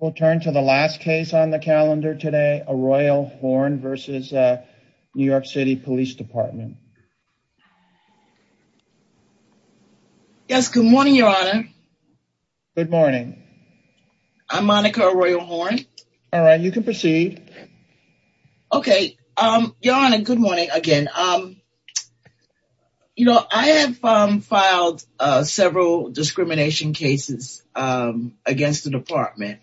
We'll turn to the last case on the calendar today, Arroyo Horn v. New York City Police Department. Yes, good morning, Your Honor. Good morning. I'm Monica Arroyo Horn. All right, you can proceed. Okay. Your Honor, good morning again. You know, I have filed several discrimination cases against the department.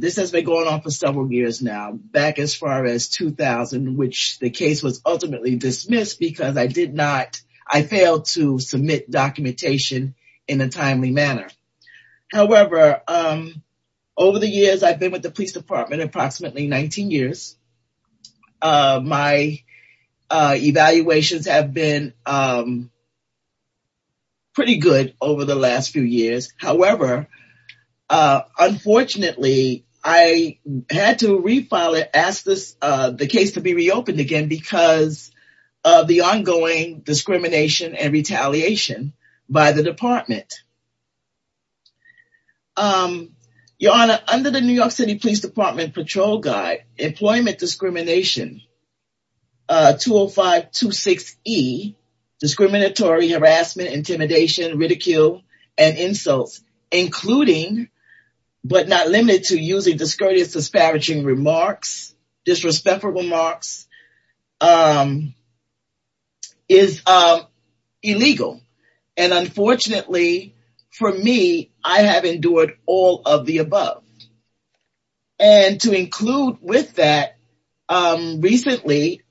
This has been going on for several years now, back as far as 2000, which the case was ultimately dismissed because I did not, I failed to submit documentation in a timely manner. However, over the years, I've been with the police department approximately 19 years. My evaluations have been pretty good over the last few years. However, unfortunately, I had to refile it, ask the case to be reopened again because of the ongoing discrimination and retaliation by the department. Your Honor, under the New York City Police Department Patrol Guide, Employment Discrimination 20526E, discriminatory, harassment, intimidation, ridicule, and insults, including, but not limited to, using discourteous, disparaging remarks, disrespectful remarks, is illegal. And unfortunately, for me, I have endured all of the above. And to include with that, recently,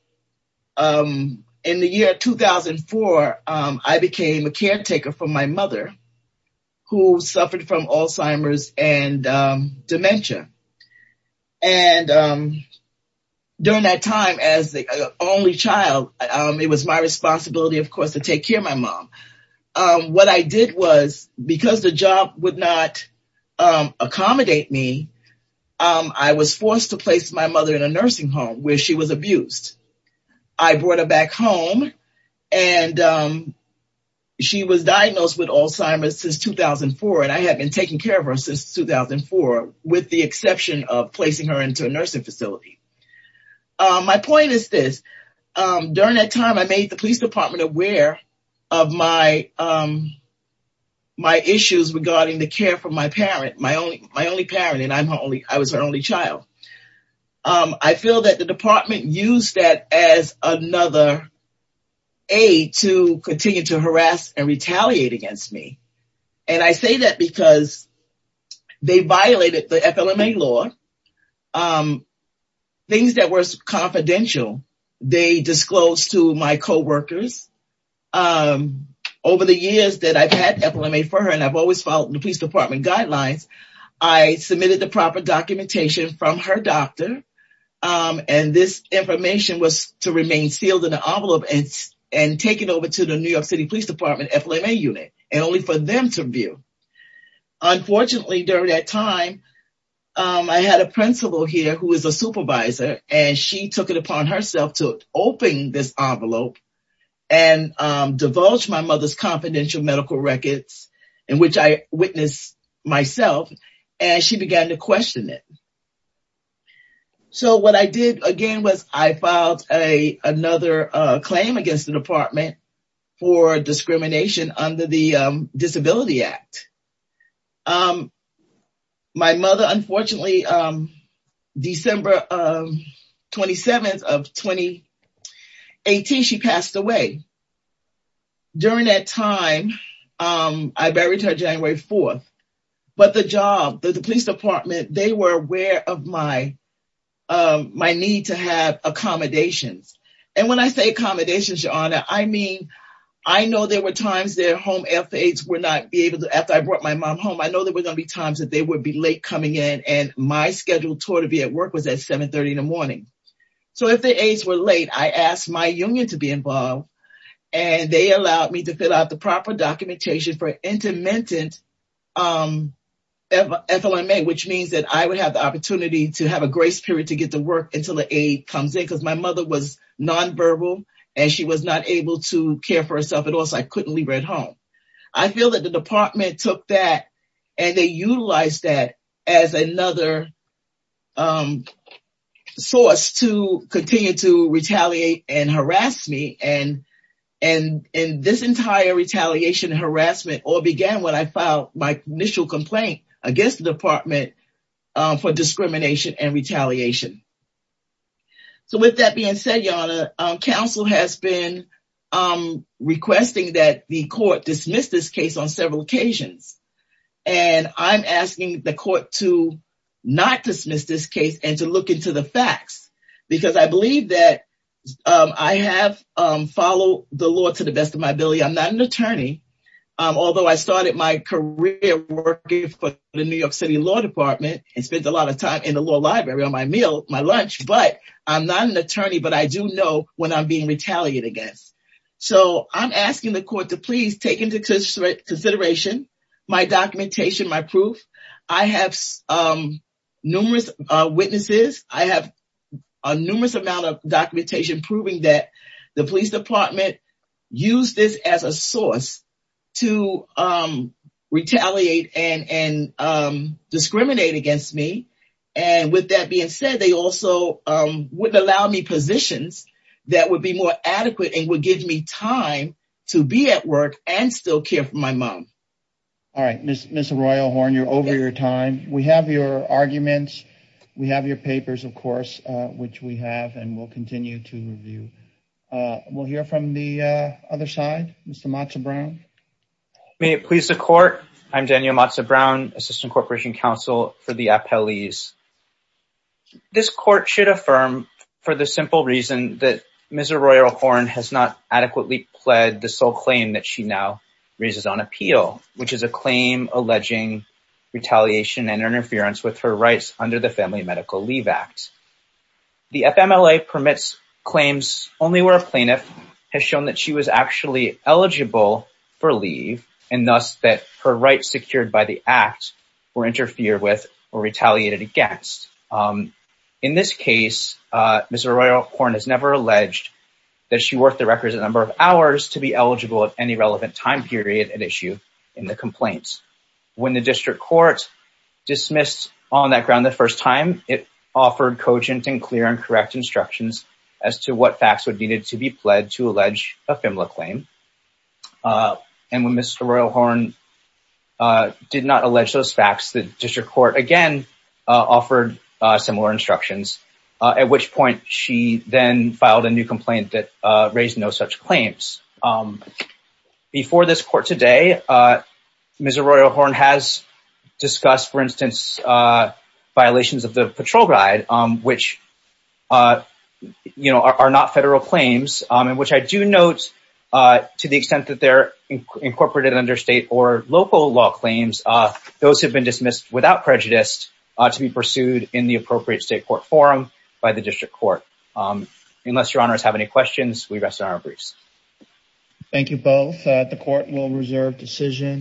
in the year 2004, I became a caretaker for my mother, who suffered from Alzheimer's and dementia. And during that time, as the only child, it was my responsibility, of course, to take care of my mom. What I did was, because the job would not accommodate me, I was forced to place my mother in a nursing home, where she was abused. I brought her back home, and she was diagnosed with Alzheimer's since 2004, and I had been taking care of her since 2004, with the exception of placing her into a nursing facility. My point is this. During that time, I made the police department aware of my issues regarding the care for my parent, my only parent, and I was her only child. I feel that the department used that as another aid to continue to harass and retaliate against me. And I say that because they violated the FLMA law. Things that were confidential, they disclosed to my coworkers. Over the years that I've had FLMA for her, and I've always followed the police department guidelines, I submitted the proper documentation from her doctor, and this information was to remain sealed in an envelope and taken over to the New York City Police Department FLMA unit, and only for them to review. Unfortunately, during that time, I had a principal here who was a supervisor, and she took it upon herself to open this envelope and divulge my mother's confidential medical records, in which I witnessed myself, and she began to question it. So what I did, again, was I filed another claim against the department for discrimination under the Disability Act. My mother, unfortunately, December 27th of 2018, she passed away. During that time, I buried her January 4th. But the job, the police department, they were aware of my need to have accommodations. And when I say accommodations, Your Honor, I mean, I know there were times their home aides would not be able to, after I brought my mom home, I know there were going to be times that they would be late coming in, and my scheduled tour to be at work was at 730 in the morning. So if the aides were late, I asked my union to be involved, and they allowed me to fill out the proper documentation for intermittent FLMA, which means that I would have the opportunity to have a grace period to get to work until the aide comes in, because my mother was nonverbal, and she was not able to care for herself at all, so I couldn't leave her at home. I feel that the department took that, and they utilized that as another source to continue to retaliate and harass me, and this entire retaliation harassment all began when I filed my initial complaint against the department for discrimination and retaliation. So with that being said, Your Honor, counsel has been requesting that the court dismiss this case on several occasions, and I'm asking the court to not dismiss this case and to believe that I have followed the law to the best of my ability. I'm not an attorney, although I started my career working for the New York City Law Department and spent a lot of time in the law library on my meal, my lunch, but I'm not an attorney, but I do know when I'm being retaliated against. So I'm asking the court to please take into consideration my documentation, my proof. I have numerous witnesses. I have a numerous amount of documentation proving that the police department used this as a source to retaliate and discriminate against me. And with that being said, they also wouldn't allow me positions that would be more adequate and would give me time to be at work and still care for my mom. All right. Ms. Royal Horn, you're over your time. We have your arguments. We have your papers, of course, which we have and will continue to review. We'll hear from the other side. Mr. Mazza-Brown. May it please the court. I'm Daniel Mazza-Brown, assistant corporation counsel for the appellees. This court should affirm for the simple reason that Ms. Royal Horn has not adequately pled the sole claim that she now raises on appeal, which is a claim alleging retaliation and interference with her rights under the Family Medical Leave Act. The FMLA permits claims only where a plaintiff has shown that she was actually eligible for leave and thus that her rights secured by the act were interfered with or retaliated against. In this case, Ms. Royal Horn has never alleged that she worked the records a number of hours to be eligible at any relevant time period at issue in the complaint. When the district court dismissed on that ground the first time, it offered cogent and clear and correct instructions as to what facts would need to be pled to allege a FMLA claim. And when Ms. Royal Horn did not allege those facts, the district court again offered similar instructions, at which point she then filed a new complaint that raised no such claims. Before this court today, Ms. Royal Horn has discussed, for instance, violations of the patrol guide, which are not federal claims, in which I do note to the extent that they're incorporated under state or local law claims, those have been dismissed without prejudice to be pursued in the appropriate state court forum by the district court. Unless your honors have any questions, we rest on our briefs. Thank you both. The court will reserve decision.